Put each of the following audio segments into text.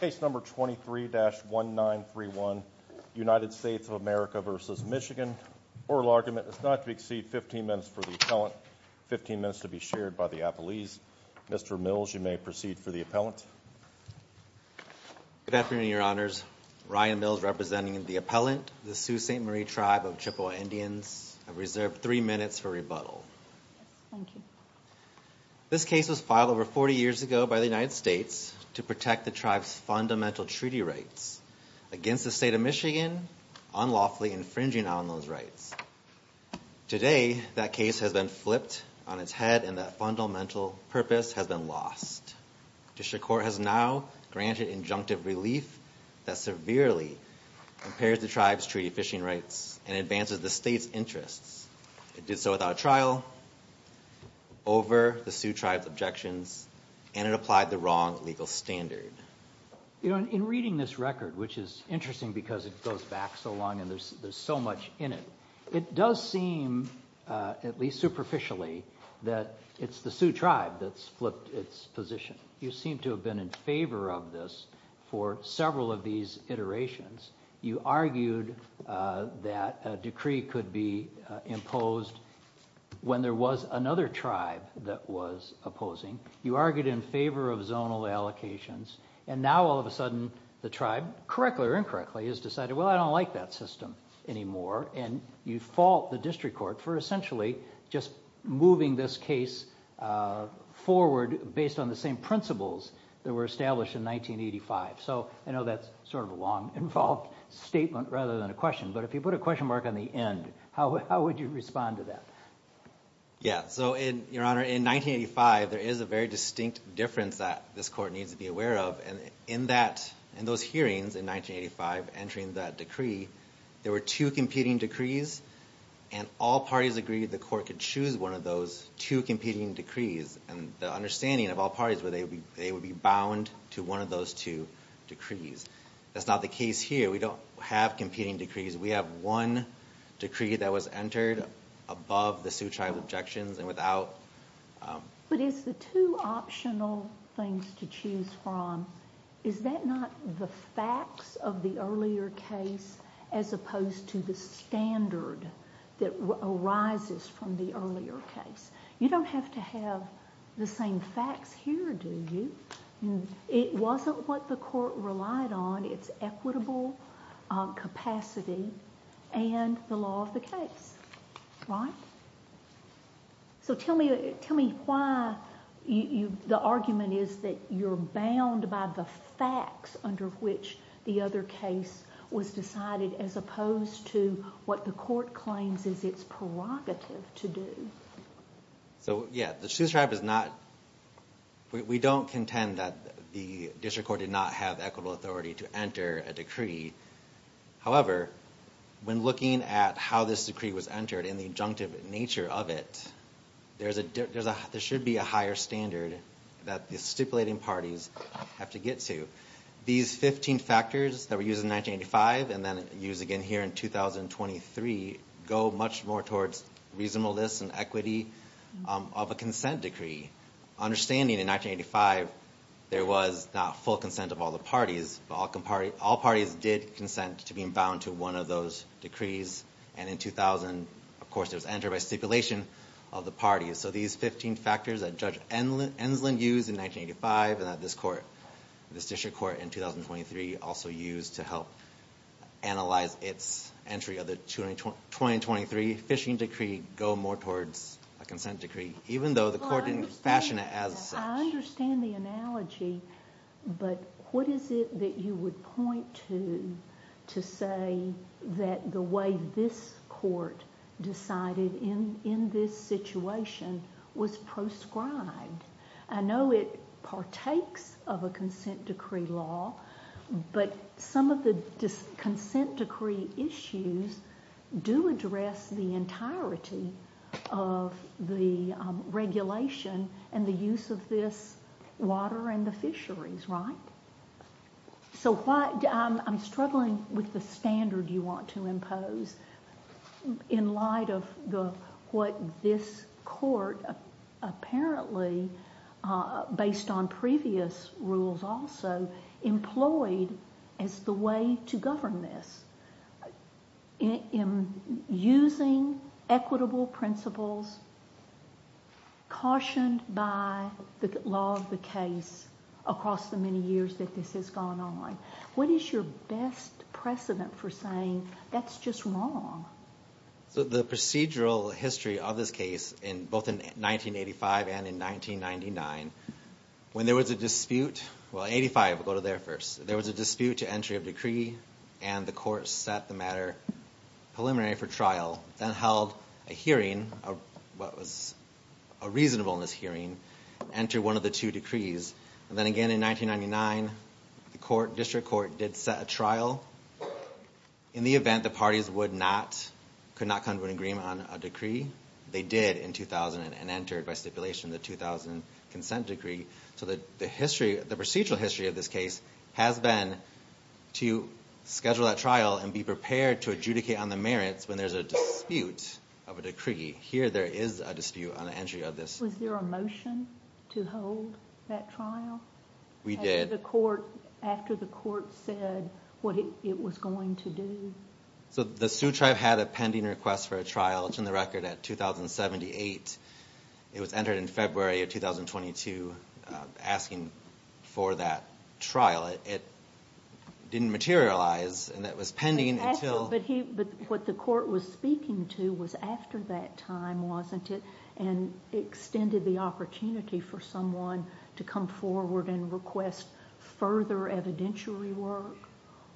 Case number 23-1931, United States of America v. Michigan. Oral argument is not to exceed 15 minutes for the appellant, 15 minutes to be shared by the appellees. Mr. Mills, you may proceed for the appellant. Good afternoon, your honors. Ryan Mills representing the appellant, the Sioux St. Marie tribe of Chippewa Indians. I reserve three minutes for rebuttal. This case was filed over 40 years ago by the United States to protect the tribe's fundamental treaty rights against the state of Michigan unlawfully infringing on those rights. Today, that case has been flipped on its head and that fundamental purpose has been lost. Dishonor Court has now granted injunctive relief that severely impairs the tribe's treaty fishing rights and advances the state's interests. It did so without trial, over the Sioux tribe's objections, and it applied the wrong legal standard. You know, in reading this record, which is interesting because it goes back so long and there's so much in it, it does seem, at least superficially, that it's the Sioux tribe that's flipped its position. You argued that a decree could be imposed when there was another tribe that was opposing. You argued in favor of zonal allocations. And now, all of a sudden, the tribe, correctly or incorrectly, has decided, well, I don't like that system anymore. And you fault the district court for essentially just moving this case forward based on the same principles that were established in 1985. So I know that's sort of a long, involved statement rather than a question, but if you put a question mark on the end, how would you respond to that? Yeah. So, Your Honor, in 1985, there is a very distinct difference that this court needs to be aware of. And in those hearings in 1985, entering that decree, there were two competing decrees and all parties agreed the court could choose one of those two competing They would be bound to one of those two decrees. That's not the case here. We don't have competing decrees. We have one decree that was entered above the Sioux tribe objections and without But is the two optional things to choose from, is that not the facts of the earlier case as opposed to the standard that arises from the earlier case? You don't have to have the same facts here, do you? It wasn't what the court relied on. It's equitable capacity and the law of the case, right? So tell me why the argument is that you're bound by the facts under which the other case was decided as opposed to what the court claims is its prerogative to do. So, yeah, the Sioux tribe is not, we don't contend that the district court did not have equitable authority to enter a decree. However, when looking at how this decree was entered and the injunctive nature of it, there should be a higher standard that the stipulating parties have to get to. These 15 factors that were used in 1985 and then used again here in 2023 go much more towards reasonableness and equity of a consent decree. Understanding in 1985, there was not full consent of all the parties, but all parties did consent to being bound to one of those decrees. And in 2000, of course, it was entered by stipulation of the parties. So these 15 factors that Judge Enslin used in 1985 and that this district court in 2023 also used to help analyze its entry of the 2023 fishing decree go more towards a consent decree, even though the court didn't fashion it as such. I understand the analogy, but what is it that you would point to to say that the way this court decided in this situation was proscribed? I know it partakes of a consent decree, like any law, but some of the consent decree issues do address the entirety of the regulation and the use of this water and the fisheries, right? I'm struggling with the standard you want to impose in light of what this court, apparently based on previous rules also, employed as the way to govern this. In using equitable principles, cautioned by the law of the case across the many years that this has gone on, what is your best precedent for saying that's just wrong? The procedural history of this case, both in 1985 and in 1999, when there was a dispute to entry of decree and the court set the matter preliminary for trial, then held a hearing, a reasonableness hearing, entered one of the two decrees. Then again in 1999, the district court did set a trial in the event the parties could not come to an agreement on a decree. They did in 2000 and entered by stipulation the 2000 consent decree. The procedural history of this case has been to schedule that trial and be prepared to adjudicate on the merits when there's a dispute of a decree. Here there is a dispute on the entry of this. Was there a motion to hold that trial? We did. After the court said what it was going to do? The Sioux Tribe had a pending request for a trial. It's in the record at 2078. It was entered in February of 2022, asking for that trial. It didn't materialize and it was pending until... But what the court was speaking to was after that time, wasn't it? And extended the opportunity for someone to come forward and request further evidentiary work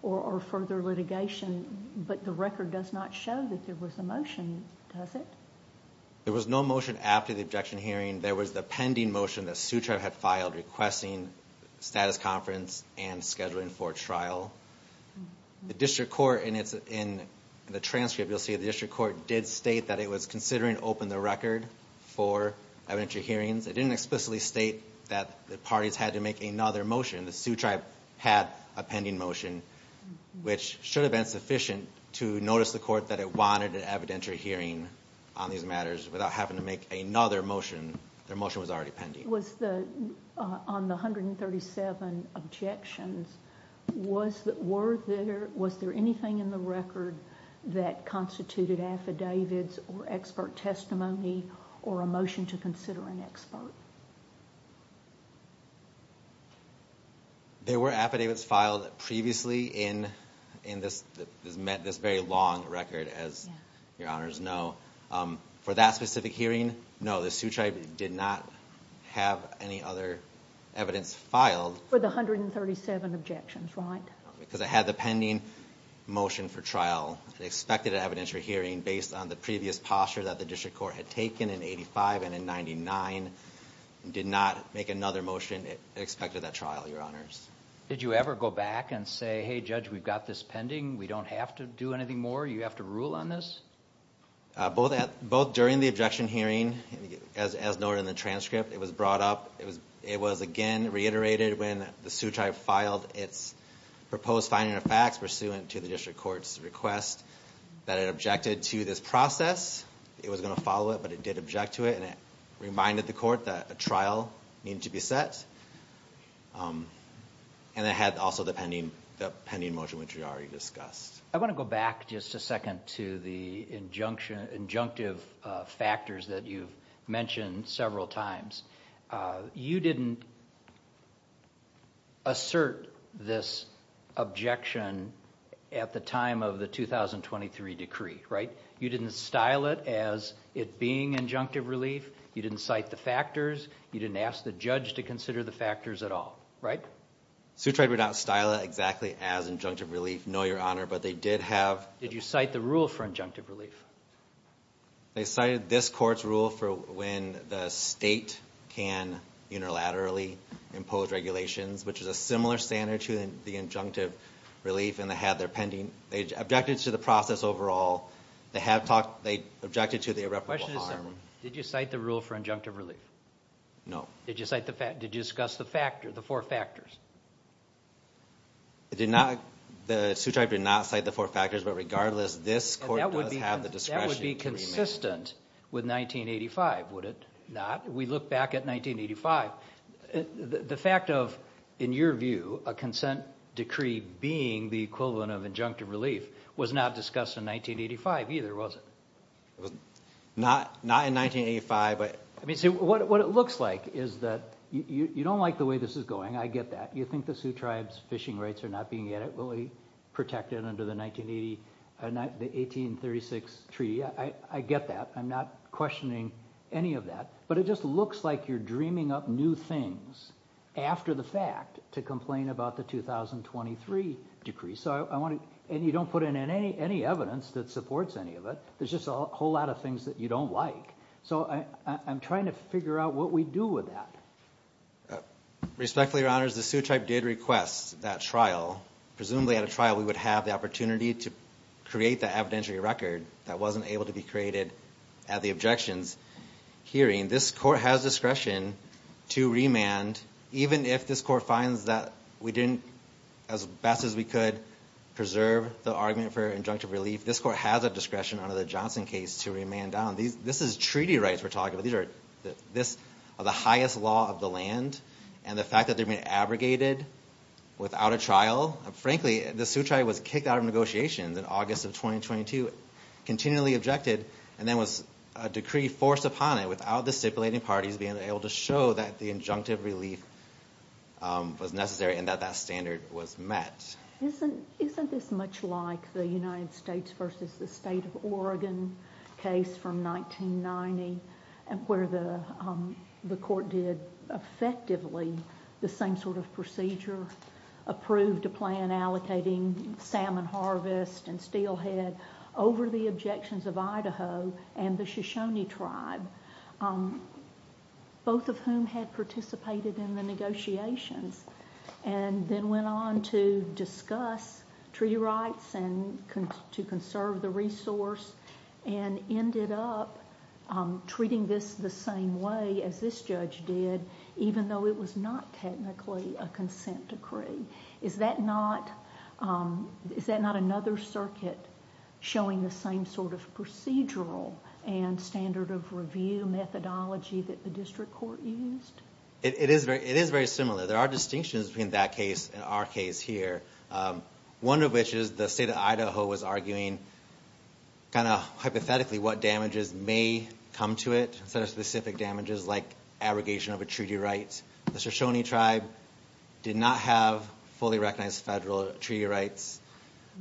or further litigation. But the record does not show that there was a motion, does it? There was no motion after the objection hearing. There was the pending motion that Sioux Tribe had filed requesting status conference and scheduling for trial. The district court, and it's in the transcript, you'll see the district court did state that it was considering open the record for evidentiary hearings. It didn't explicitly state that the parties had to make another motion. The Sioux Tribe had a pending motion, which should have been sufficient to notice the court that it wanted an evidentiary hearing on these matters without having to make another motion. Their motion was already pending. On the 137 objections, was there anything in the record that constituted affidavits or expert testimony or a motion to consider an expert? There were affidavits filed previously in this very long record, as your honors know. For that specific hearing, no, the Sioux Tribe did not have any other evidence filed. For the 137 objections, right? Because it had the pending motion for trial. It expected an evidentiary hearing based on the previous posture that the district court had taken in 85 and in 99. It did not make another motion. It expected that trial, your honors. Did you ever go back and say, hey, judge, we've got this pending. We don't have to do on this? Both during the objection hearing, as noted in the transcript, it was brought up. It was again reiterated when the Sioux Tribe filed its proposed finding of facts pursuant to the district court's request that it objected to this process. It was going to follow it, but it did object to it. It reminded the court that a trial needed to be set. It had also the pending motion, which we already discussed. I want to go back just a second to the injunctive factors that you've mentioned several times. You didn't assert this objection at the time of the 2023 decree, right? You didn't style it as it being injunctive relief. You didn't cite the factors. You didn't ask the judge to consider the factors at all, right? Sioux Tribe would not style it exactly as injunctive relief, no, your honor, but they did have... Did you cite the rule for injunctive relief? They cited this court's rule for when the state can unilaterally impose regulations, which is a similar standard to the injunctive relief, and they had their pending... They objected to the process overall. They objected to the irreparable harm. Did you cite the rule for injunctive relief? No. Did you cite the fact... Did you discuss the factor, the four factors? I did not... The Sioux Tribe did not cite the four factors, but regardless, this court does have the discretion to remain... That would be consistent with 1985, would it not? We look back at 1985. The fact of, in your view, a consent decree being the equivalent of injunctive relief was not discussed in 1985 either, was it? Not in 1985, but... What it looks like is that you don't like the way this is going. I get that. You think the Sioux Tribe's fishing rights are not being adequately protected under the 1836 treaty. I get that. I'm not questioning any of that, but it just looks like you're dreaming up new things after the fact to complain about the 2023 decree. You don't put in any evidence that supports any of it. There's just a whole lot of things that you don't like. I'm trying to figure out what we do with that. Respectfully, Your Honors, the Sioux Tribe did request that trial. Presumably at a trial we would have the opportunity to create the evidentiary record that wasn't able to be created at the objections hearing. This court has discretion to remand even if this court finds that we didn't, as best as we could, preserve the argument for injunctive relief. This court has a discretion under the Johnson case to remand down. This is treaty rights we're talking about. These are the highest law of the land. The fact that they're being abrogated without a trial, frankly, the Sioux Tribe was kicked out of negotiations in August of 2022, continually objected, and then was a decree forced upon it without the stipulating parties being able to show that the injunctive relief was necessary and that that standard was met. Isn't this much like the United States versus the State of Oregon case from 1990, where the court did effectively the same sort of procedure, approved a plan allocating salmon harvest and steelhead over the objections of Idaho and the Shoshone Tribe, both of whom had participated in the negotiations, and then went on to discuss treaty rights and to conserve the resource, and ended up treating this the same way as this judge did, even though it was not technically a consent decree? Is that not another circuit showing the same sort of procedural and standard of review methodology that the district court used? It is very similar. There are distinctions between that case and our case here, one of which is the State of Idaho was arguing kind of hypothetically what damages may come to it, sort of specific damages like abrogation of a treaty right. The Shoshone Tribe did not have fully recognized federal treaty rights.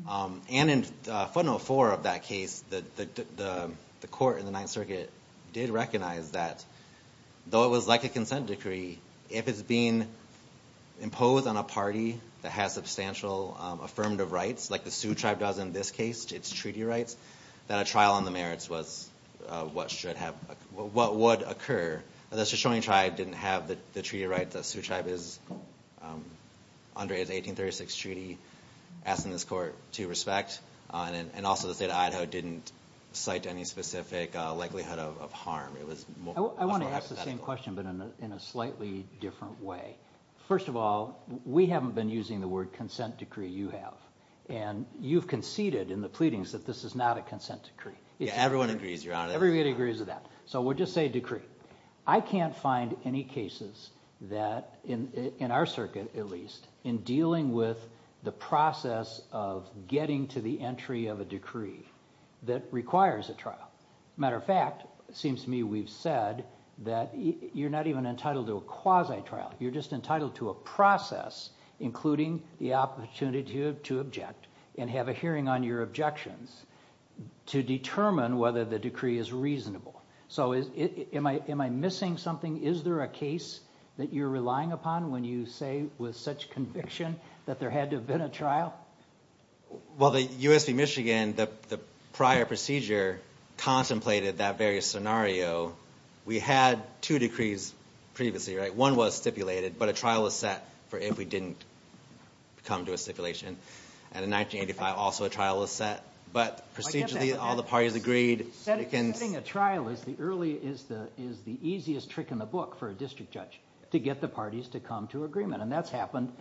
And in footnote four of that case, the court in the Ninth Circuit did recognize that, though it was like a consent decree, if it's being imposed on a party that has substantial affirmative rights, like the Sioux Tribe does in this case, its treaty rights, that a trial on the merits was what should have happened. The Shoshone Tribe didn't have the treaty rights that the Sioux Tribe is under its 1836 treaty, asking this court to respect. And also the State of Idaho didn't cite any specific likelihood of harm. It was more hypothetical. I want to ask the same question, but in a slightly different way. First of all, we haven't been using the word consent decree. You have. And you've conceded in the pleadings that this is not a consent decree. Everyone agrees, Your Honor. Everybody agrees with that. So we'll just say decree. I can't find any cases that, in our circuit at least, in dealing with the process of getting to the entry of a decree that requires a trial. Matter of fact, it seems to me we've said that you're not even entitled to a quasi-trial. You're just entitled to a process, including the opportunity to object and have a hearing on your objections to determine whether the decree is reasonable. So am I missing something? Is there a case that you're relying upon when you say with such conviction that there had to have been a trial? Well the U.S. v. Michigan, the prior procedure contemplated that very scenario. We had two decrees previously, right? One was stipulated, but a trial was set for if we didn't come to a stipulation. And in 1985, also a trial was set. But procedurally, all the parties agreed. Setting a trial is the easiest trick in the book for a district judge, to get the parties to come to agreement. And that's happened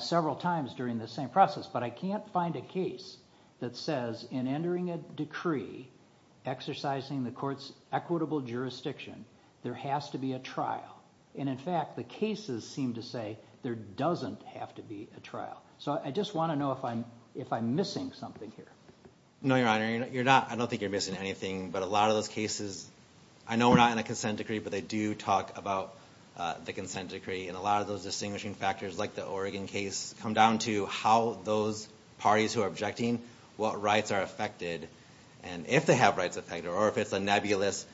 several times during the same process. But I can't find a case that says in entering a decree exercising the court's equitable jurisdiction, there has to be a trial. And in fact, the cases seem to say there doesn't have to be a trial. So I just want to know if I'm missing something here. No, Your Honor. I don't think you're missing anything. But a lot of those cases, I know we're not in a consent decree, but they do talk about the consent decree. And a lot of those distinguishing factors, like the Oregon case, come down to how those parties who are objecting, what rights are affected. And if they have rights affected, or if it's a nebulous,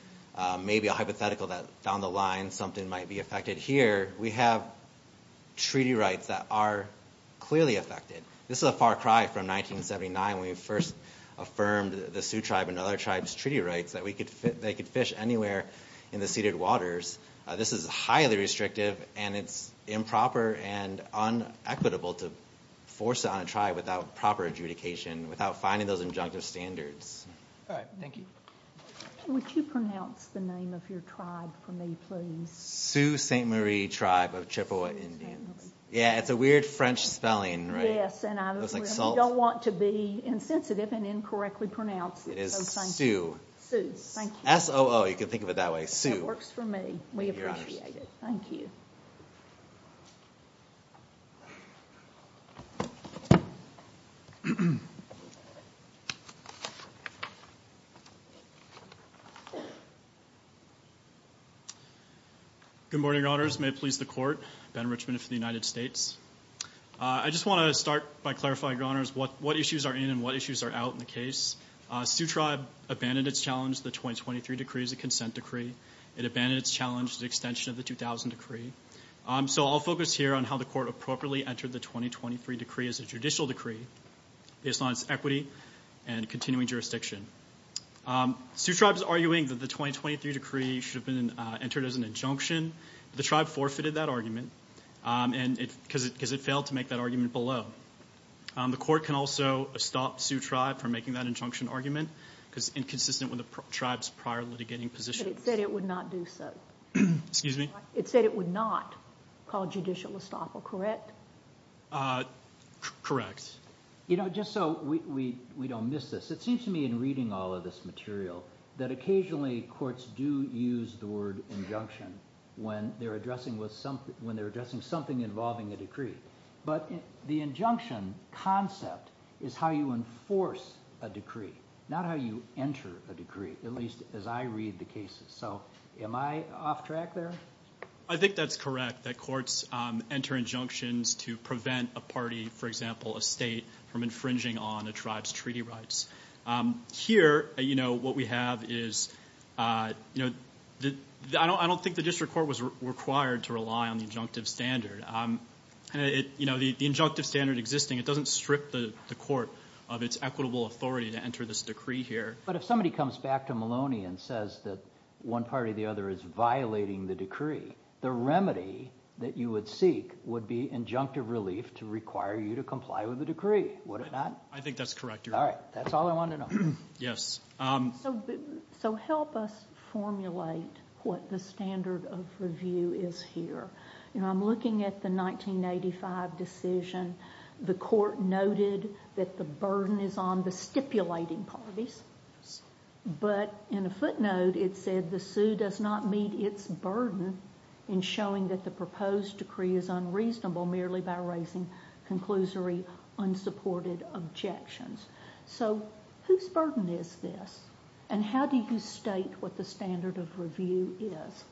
maybe a hypothetical that found the line, something might be affected. But here, we have treaty rights that are clearly affected. This is a far cry from 1979, when we first affirmed the Sioux Tribe and other tribes' treaty rights, that they could fish anywhere in the ceded waters. This is highly restrictive, and it's improper and unequitable to force it on a tribe without proper adjudication, without finding those injunctive standards. All right. Thank you. Would you pronounce the name of your tribe for me, please? Sioux St. Marie Tribe of Chippewa Indians. Yeah, it's a weird French spelling, right? Yes, and I don't want to be insensitive and incorrectly pronounce it. It is Sioux. Sioux, thank you. S-O-O, you can think of it that way. Sioux. That works for me. We appreciate it. Thank you. Good morning, Your Honors. May it please the Court, Ben Richmond for the United States. I just want to start by clarifying, Your Honors, what issues are in and what issues are out in the case. Sioux Tribe abandoned its challenge to the 2023 decree as a consent decree. It abandoned its challenge to the extension of the 2000 decree. So I'll focus here on how the Court appropriately entered the 2023 decree as a judicial decree, based on its equity and continuing jurisdiction. Sioux Tribe is arguing that the 2023 decree should have been entered as an injunction. The Tribe forfeited that argument because it failed to make that argument below. The Court can also stop Sioux Tribe from making that injunction argument because it's inconsistent with the Tribe's prior litigating position. But it said it would not do so. Excuse me? It said it would not call judicial estoppel, correct? Correct. You know, just so we don't miss this, it seems to me in reading all of this material that occasionally courts do use the word injunction when they're addressing something involving a decree. But the injunction concept is how you enforce a decree, not how you enter a decree, at least as I read the cases. So am I off track there? I think that's correct, that courts enter injunctions to prevent a party, for example, a state, from infringing on a tribe's treaty rights. Here, you know, what we have is, you know, I don't think the district court was required to rely on the injunctive standard. You know, the injunctive standard existing, it doesn't strip the court of its equitable authority to enter this decree here. But if somebody comes back to Maloney and says that one party or the other is violating the decree, the remedy that you would seek would be injunctive relief to require you to comply with the decree, would it not? I think that's correct, Your Honor. All right, that's all I wanted to know. Yes. So help us formulate what the standard of review is here. You know, I'm looking at the 1985 decision. The court noted that the burden is on the stipulating parties. But in a footnote, it said the sue does not meet its burden in showing that the proposed decree is unreasonable merely by raising conclusory, unsupported objections. So whose burden is this? And how do you state what the standard of review is?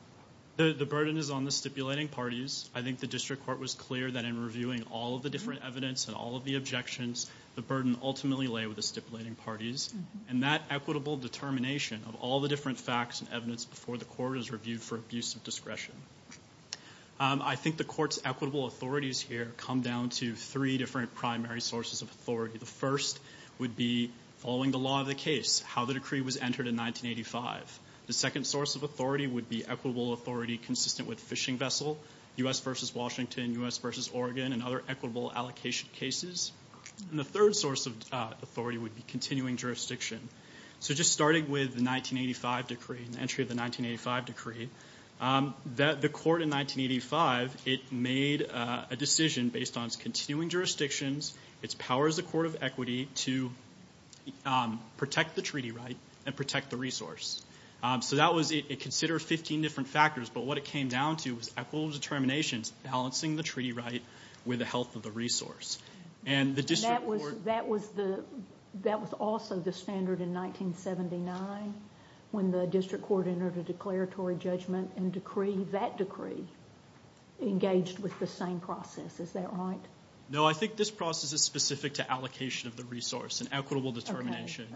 The burden is on the stipulating parties. I think the district court was clear that in reviewing all of the different evidence and all of the objections, the burden ultimately lay with the stipulating parties. And that equitable determination of all the different facts and evidence before the court is reviewed for abuse of discretion. I think the court's equitable authorities here come down to three different primary sources of authority. The first would be following the law of the case, how the decree was entered in 1985. The second source of authority would be equitable authority consistent with fishing vessel, U.S. v. Washington, U.S. v. Oregon, and other equitable allocation cases. And the third source of authority would be continuing jurisdiction. So just starting with the 1985 decree, the entry of the 1985 decree, the court in 1985, it made a decision based on its continuing jurisdictions, its power as a court of equity to protect the treaty right and protect the resource. So that was considered 15 different factors, but what it came down to was equitable determinations, balancing the treaty right with the health of the resource. And the district court... That was also the standard in 1979 when the district court entered a declaratory judgment and that decree engaged with the same process. Is that right? No, I think this process is specific to allocation of the resource and equitable determination.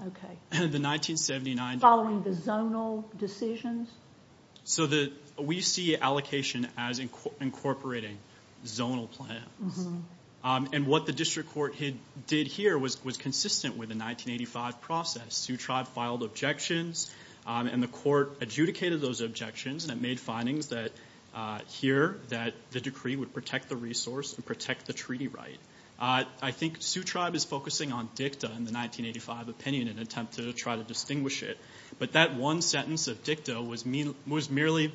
Following the zonal decisions? So we see allocation as incorporating zonal plans. And what the district court did here was consistent with the 1985 process. Sioux Tribe filed objections and the court adjudicated those objections and it made findings here that the decree would protect the resource and protect the treaty right. I think Sioux Tribe is focusing on dicta in the 1985 opinion in an attempt to try to distinguish it, but that one sentence of dicta was merely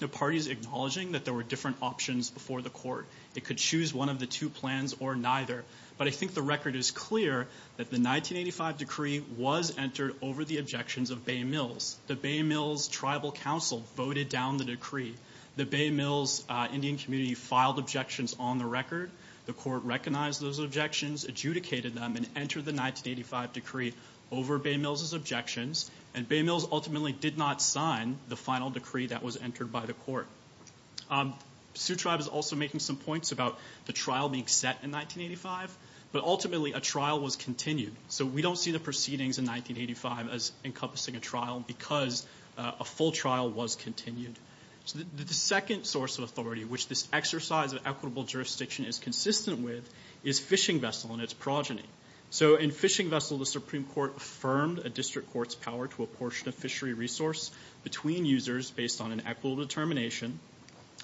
the parties acknowledging that there were different options before the court. It could choose one of the two plans or neither. But I think the record is clear that the 1985 decree was entered over the objections of Bay Mills. The Bay Mills Tribal Council voted down the decree. The Bay Mills Indian community filed objections on the record. The court recognized those objections, adjudicated them, and entered the 1985 decree over Bay Mills' objections. And Bay Mills ultimately did not sign the final decree that was entered by the court. Sioux Tribe is also making some points about the trial being set in 1985, but ultimately a trial was continued. So we don't see the proceedings in 1985 as encompassing a trial because a full trial was continued. The second source of authority which this exercise of equitable jurisdiction is consistent with is fishing vessel and its progeny. So in fishing vessel, the Supreme Court affirmed a district court's power to apportion a fishery resource between users based on an equitable determination,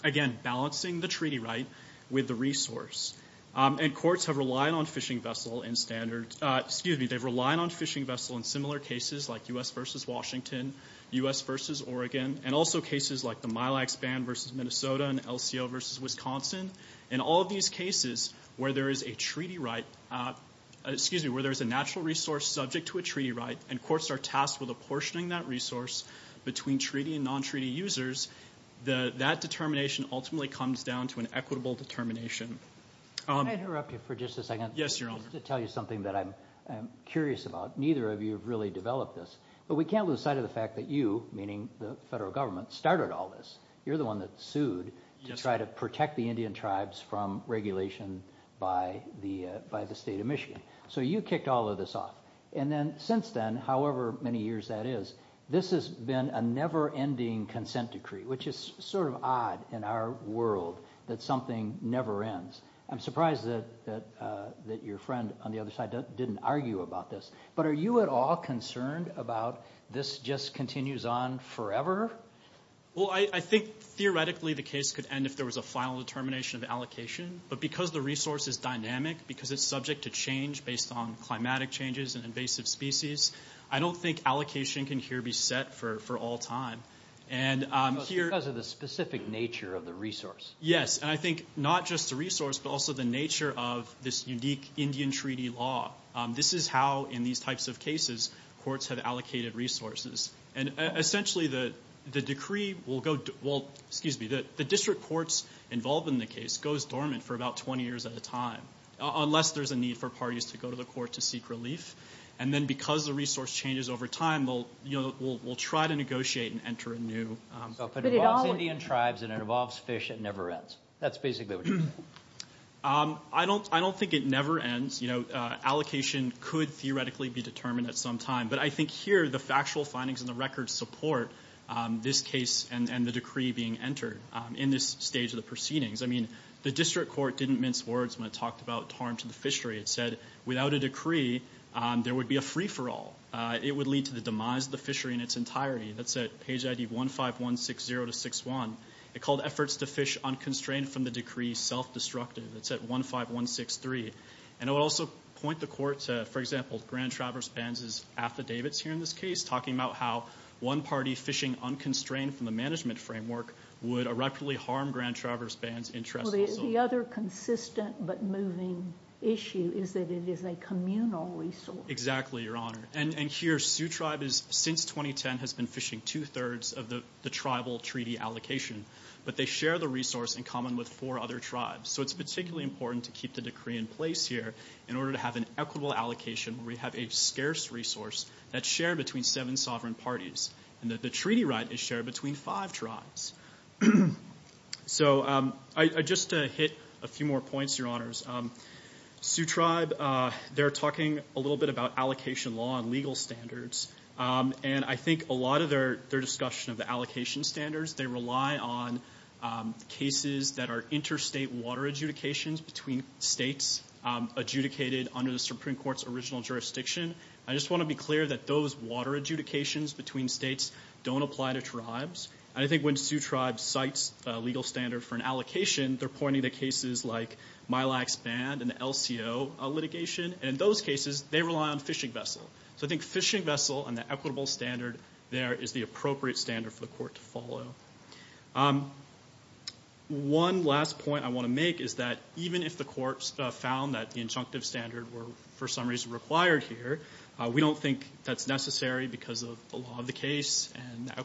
again, balancing the treaty right with the resource. And courts have relied on fishing vessel in standard... Excuse me, they've relied on fishing vessel in similar cases like U.S. v. Washington, U.S. v. Oregon, and also cases like the Milag Span v. Minnesota and LCO v. Wisconsin. In all of these cases where there is a treaty right... Excuse me, where there is a natural resource subject to a treaty right, and courts are tasked with apportioning that resource between treaty and non-treaty users, that determination ultimately comes down to an equitable determination. Can I interrupt you for just a second? Yes, Your Honor. Just to tell you something that I'm curious about. Neither of you have really developed this, but we can't lose sight of the fact that you, meaning the federal government, started all this. You're the one that sued to try to protect the Indian tribes from regulation by the state of Michigan. So you kicked all of this off. And then since then, however many years that is, this has been a never-ending consent decree, which is sort of odd in our world that something never ends. I'm surprised that your friend on the other side didn't argue about this. But are you at all concerned about this just continues on forever? Well, I think theoretically the case could end if there was a final determination of allocation. But because the resource is dynamic, because it's subject to change based on climatic changes, and invasive species, I don't think allocation can here be set for all time. Because of the specific nature of the resource? Yes, and I think not just the resource, but also the nature of this unique Indian treaty law. This is how, in these types of cases, courts have allocated resources. And essentially the decree will go... Well, excuse me, the district courts involved in the case goes dormant for about 20 years at a time, unless there's a need for parties to go to the court to seek relief. And then because the resource changes over time, we'll try to negotiate and enter a new... So if it involves Indian tribes and it involves fish, it never ends. That's basically what you're saying. I don't think it never ends. You know, allocation could theoretically be determined at some time. But I think here the factual findings and the records support this case and the decree being entered in this stage of the proceedings. I mean, the district court didn't mince words when it talked about harm to the fishery. It said without a decree, there would be a free-for-all. It would lead to the demise of the fishery in its entirety. That's at page ID 15160-61. It called efforts to fish unconstrained from the decree self-destructive. That's at 15163. And it would also point the court to, for example, Grand Traverse Bands' affidavits here in this case, talking about how one party fishing unconstrained from the management framework would irreparably harm Grand Traverse Bands' interests. So the other consistent but moving issue is that it is a communal resource. Exactly, Your Honor. And here, Sioux Tribe, since 2010, has been fishing two-thirds of the tribal treaty allocation. But they share the resource in common with four other tribes. So it's particularly important to keep the decree in place here in order to have an equitable allocation where we have a scarce resource that's shared between seven sovereign parties and that the treaty right is shared between five tribes. So, just to hit a few more points, Your Honors. Sioux Tribe, they're talking a little bit about allocation law and legal standards. And I think a lot of their discussion of the allocation standards, they rely on cases that are interstate water adjudications between states adjudicated under the Supreme Court's original jurisdiction. I just want to be clear that those water adjudications between states don't apply to tribes. And I think when Sioux Tribe cites a legal standard for an allocation, they're pointing to cases like MILAX ban and the LCO litigation. And in those cases, they rely on fishing vessel. So I think fishing vessel and the equitable standard there is the appropriate standard for the Court to follow. One last point I want to make is that even if the Court found that the injunctive standard were, for some reason, required here, we don't think that's necessary because of the law of the case and the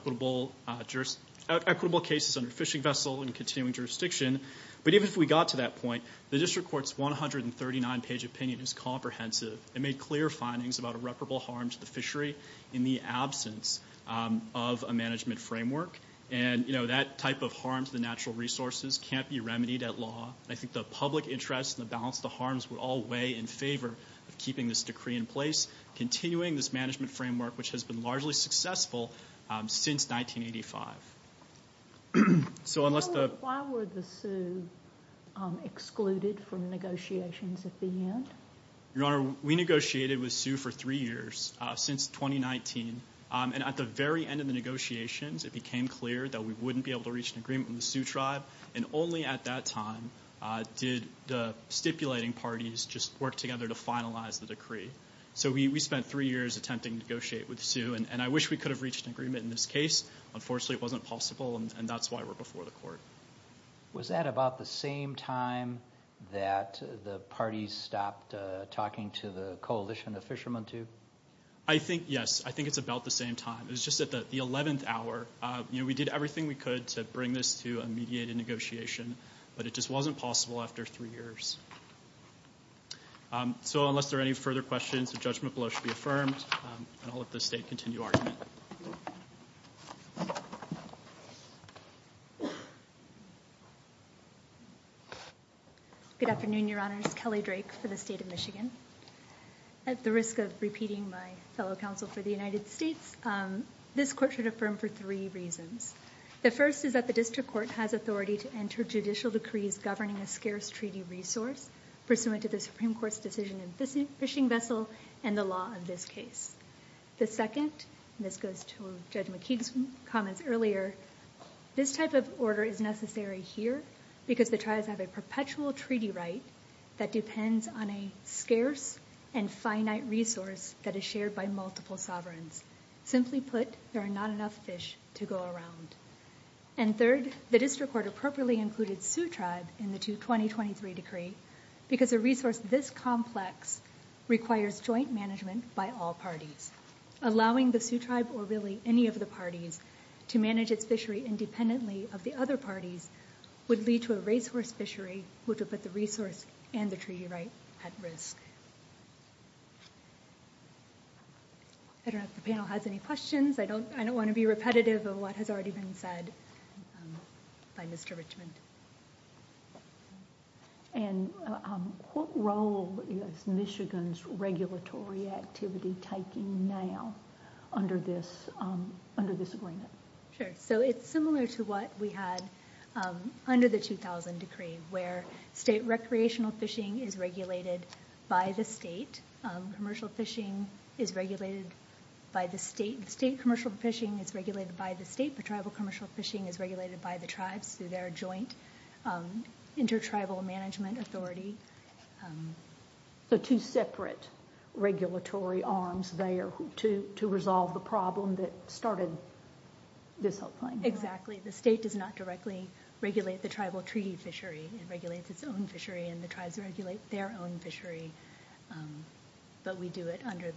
equitable cases under fishing vessel and continuing jurisdiction. But even if we got to that point, the District Court's 139-page opinion is comprehensive. It made clear findings about irreparable harm to the fishery in the absence of a management framework. That type of harm to the natural resources can't be remedied at law. I think the public interest and the balance of the harms would all weigh in favor of keeping this decree in place, continuing this management framework, which has been largely successful since 1985. So unless the... Why were the Sioux excluded from negotiations at the end? Your Honor, we negotiated with Sioux for three years, since 2019. And at the very end of the negotiations, it became clear that we wouldn't be able to reach an agreement with the Sioux Tribe. And only at that time did the stipulating parties just work together to finalize the decree. So we spent three years attempting to negotiate with Sioux, and I wish we could have reached an agreement in this case. Unfortunately, it wasn't possible, and that's why we're before the Court. Was that about the same time that the parties stopped talking to the Coalition of Fishermen, too? Yes, I think it's about the same time. It was just at the 11th hour. We did everything we could to bring this to a conclusion, and it wasn't possible after three years. So unless there are any further questions, the judgment below should be affirmed, and I'll let the State continue argument. Good afternoon, Your Honors. Kelly Drake for the State of Michigan. At the risk of repeating my fellow counsel for the United States, this Court should affirm for three reasons. The first is that the Supreme Court has no authority to enter judicial decrees governing a scarce treaty resource pursuant to the Supreme Court's decision in Fishing Vessel and the law of this case. The second, and this goes to Judge McKee's comments earlier, this type of order is necessary here because the tribes have a perpetual treaty right that depends on a scarce and finite resource that is shared by multiple sovereigns. Simply put, there are not enough fish to go around. And third, the District Court appropriately included Sioux Tribe in the 2023 decree because a resource this complex requires joint management by all parties. Allowing the Sioux Tribe, or really any of the parties, to manage its fishery independently of the other parties would lead to a racehorse fishery, which would put the resource and the treaty right at risk. I don't know if the panel has any questions. I don't want to be repetitive of what has already been said by Mr. Richmond. What role is Michigan's regulatory activity taking now under this agreement? Sure, so it's similar to what we had under the 2000 decree where state recreational fishing is regulated by the state. Commercial fishing is regulated by the state. State commercial fishing is regulated by the state. Tribal commercial fishing is regulated by the tribes through their joint inter-tribal management authority. So two separate regulatory arms there to resolve the problem that started this whole thing. Exactly. The state does not directly regulate the tribal treaty fishery. It regulates its own fishery and the tribes regulate their own fishery. But we do it under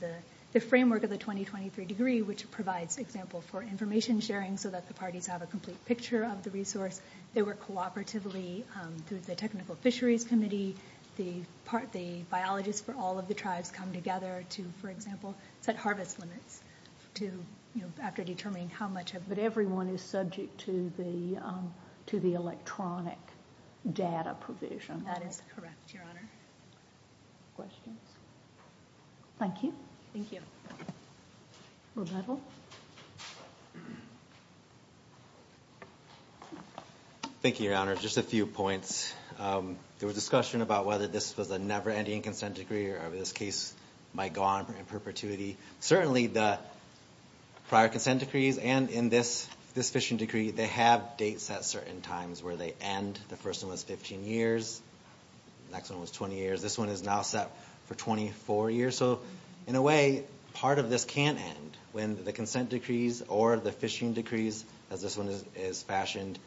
the framework of the 2023 decree which provides example for information sharing so that the parties have a complete picture of the resource. They work cooperatively through the technical fisheries committee. The biologists for all of the tribes come together to, for example, set harvest limits after determining how much of... But everyone is subject to the electronic data provision. That is correct, Your Honor. Questions? Thank you. Thank you. Rebecca? Thank you, Your Honor. Just a few points. There was discussion about whether this was a never-ending consent decree or if this case might go on in perpetuity. Certainly the prior consent decrees and in this fishing decree, they have dates at certain times where they end. The first one was 15 years. The next one was 20 years. This one is now set for 24 years. In a way, part of this can't end. When the consent decrees or the fishing decrees, as this one is fashioned,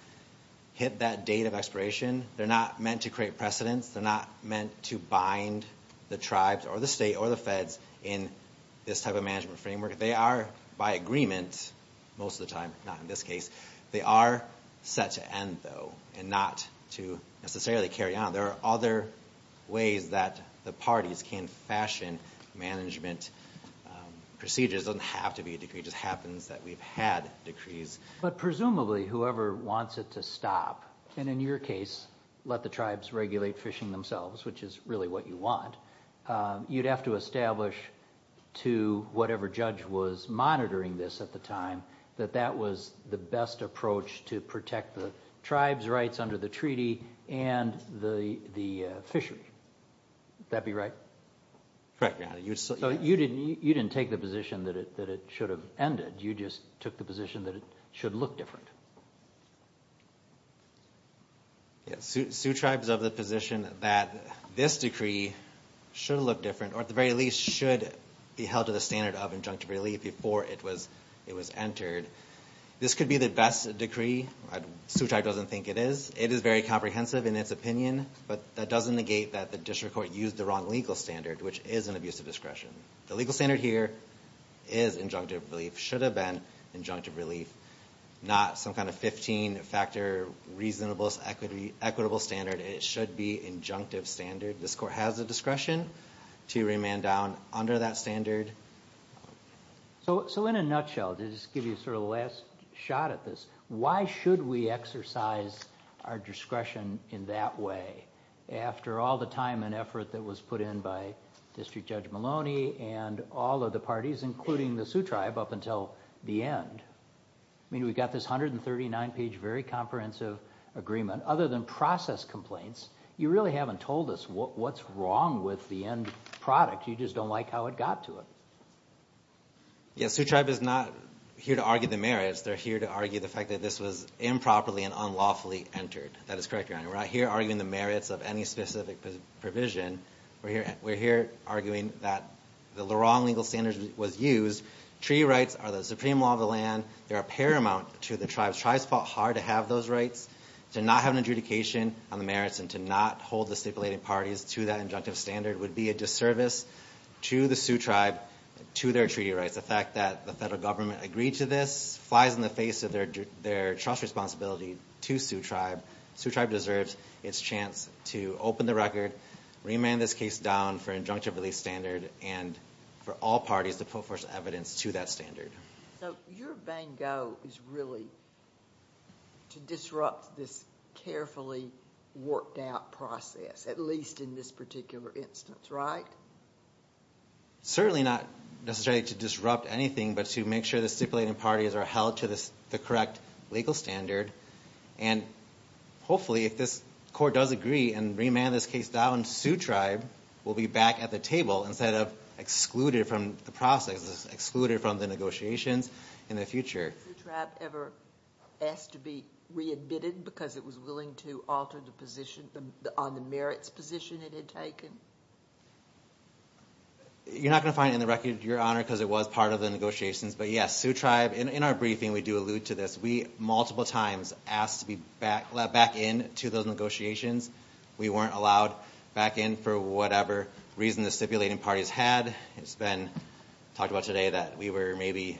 hit that date of expiration, they're not meant to create precedence. They're not meant to bind the tribes or the state or the feds in this type of management framework. They are by agreement, most of the time, not in this case, they are set to end though and not to necessarily carry on. There are other ways that the parties can fashion management procedures. It doesn't have to be a decree. It just happens that we've had decrees. But presumably whoever wants it to stop and in your case, let the tribes regulate fishing themselves, which is really what you want, you'd have to establish to whatever judge was monitoring this at the time, that that was the best approach to protect the tribes' rights under the treaty and the fishery. Would that be right? You didn't take the position that it should have ended. You just took the position that it should look different. Sioux Tribes of the position that this decree should look different or at the very least should be held to the standard of injunctive relief before it was entered. This could be the best decree. Sioux Tribe doesn't think it is. It is very comprehensive in its opinion but that doesn't negate that the district court used the wrong legal standard, which is an abusive discretion. The legal standard here is injunctive relief. Should have been injunctive relief. Not some kind of 15 factor reasonable, equitable standard. It should be injunctive standard. This court has the discretion to remand down under that standard. In a nutshell, to give you the last shot at this, why should we exercise our discretion in that way after all the time and effort that was put in by District Judge Maloney and all of the parties including the Sioux Tribe up until the end? We've got this 139 page very comprehensive agreement. Other than process complaints, you really haven't told us what's wrong with the end product. You just don't like how it got to it. Sioux Tribe is not here to argue the merits. They're here to argue the fact that this was improperly and unlawfully entered. That is correct, Your Honor. We're not here arguing the merits of any specific provision. We're here arguing that the wrong legal standard was used. Tree rights are the supreme law of the land. They are paramount to the tribes. Tribes fought hard to have those rights. To not have an adjudication on the merits and to not hold the stipulated parties to that injunctive standard would be a disservice to the Sioux Tribe to their treaty rights. The fact that the federal government agreed to this flies in the face of their responsibility to Sioux Tribe. Sioux Tribe deserves its chance to open the record, remand this case down for injunctive release standard and for all parties to put forth evidence to that standard. So your bingo is really to disrupt this carefully worked out process at least in this particular instance, right? Certainly not necessarily to disrupt anything but to make sure the stipulated parties are held to the correct legal standard and hopefully if this court does agree and remand this case down, Sioux Tribe will be back at the table instead of excluded from the process, excluded from the negotiations in the future. Has Sioux Tribe ever asked to be admitted because it was willing to alter the position on the merits position it had taken? You're not going to find it in the record, Your Honor, because it was part of the negotiations. But yes, Sioux Tribe, in our briefing we do allude to this. We multiple times asked to be back in to those negotiations. We weren't allowed back in for whatever reason the stipulated parties had. It's been talked about today that we were maybe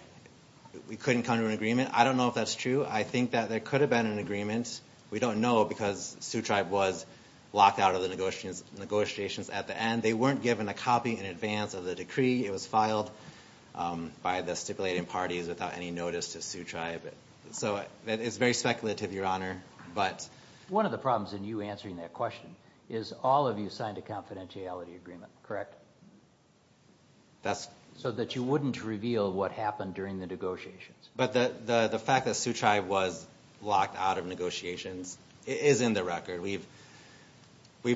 we couldn't come to an agreement. I don't know if that's true. I think that there could have been an agreement. We don't know because Sioux Tribe was locked out of the negotiations at the end. They weren't given a copy in advance of the decree. It was filed by the stipulated parties without any notice to Sioux Tribe. So it's very speculative, Your Honor. One of the problems in you answering that question is all of you signed a confidentiality agreement, correct? So that you wouldn't reveal what happened during the negotiations. But the fact that Sioux Tribe was locked out of negotiations is in the record. We've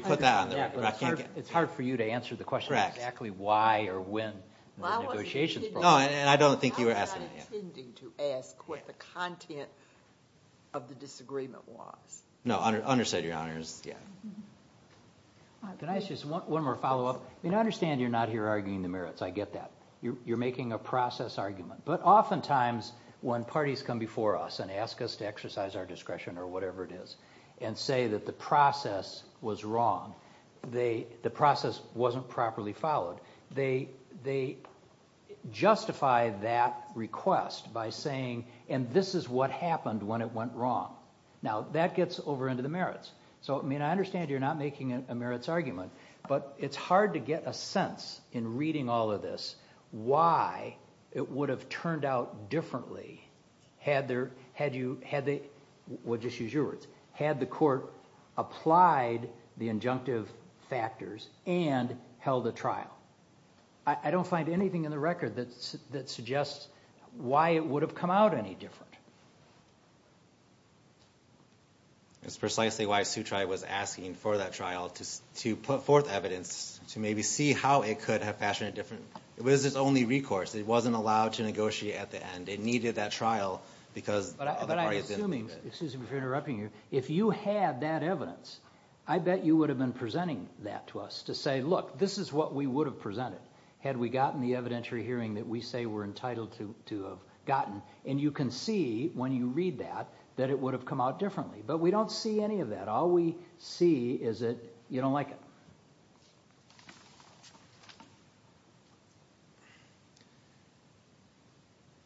put that on the record. It's hard for you to answer the question of exactly why or when the negotiations broke. I don't think you were asking that. I'm not intending to ask what the content of the disagreement was. No, understood, Your Honors. Can I ask you one more follow-up? I understand you're not here arguing the merits. I get that. You're making a process argument. But oftentimes when parties come before us and ask us to exercise our discretion or whatever it is and say that the process was wrong, the process wasn't properly followed, they justify that request by saying, and this is what happened when it went wrong. Now that gets over into the merits. I understand you're not making a merits argument, but it's hard to get a sense in reading all of this why it would have turned out differently had the court applied the injunctive factors and held a trial. I don't find anything in the record that suggests why it would have come out any different. It's precisely why Sutri was asking for that trial to put forth evidence to maybe see how it could have fashioned a different... It was its only recourse. It wasn't allowed to negotiate at the end. It needed that trial because... But I'm assuming, excuse me for interrupting you, if you had that evidence, I bet you would have been presenting that to us to say, look, this is what we would have presented had we gotten the evidentiary hearing that we say we're entitled to have gotten. And you can see when you read that that it would have come out differently. But we don't see any of that. All we see is that you don't like it.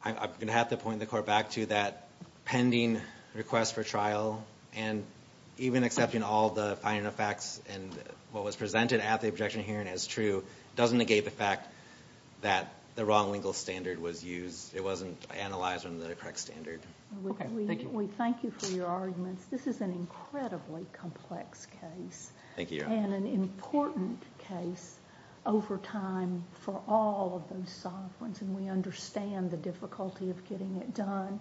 I'm going to have to point the court back to that pending request for trial and even accepting all the facts and what was presented at the objection hearing as true doesn't negate the fact that the wrong legal standard was used. It wasn't analyzed under the correct standard. We thank you for your arguments. This is an incredibly complex case and an important case over time for all of those sovereigns and we understand the difficulty of getting it done.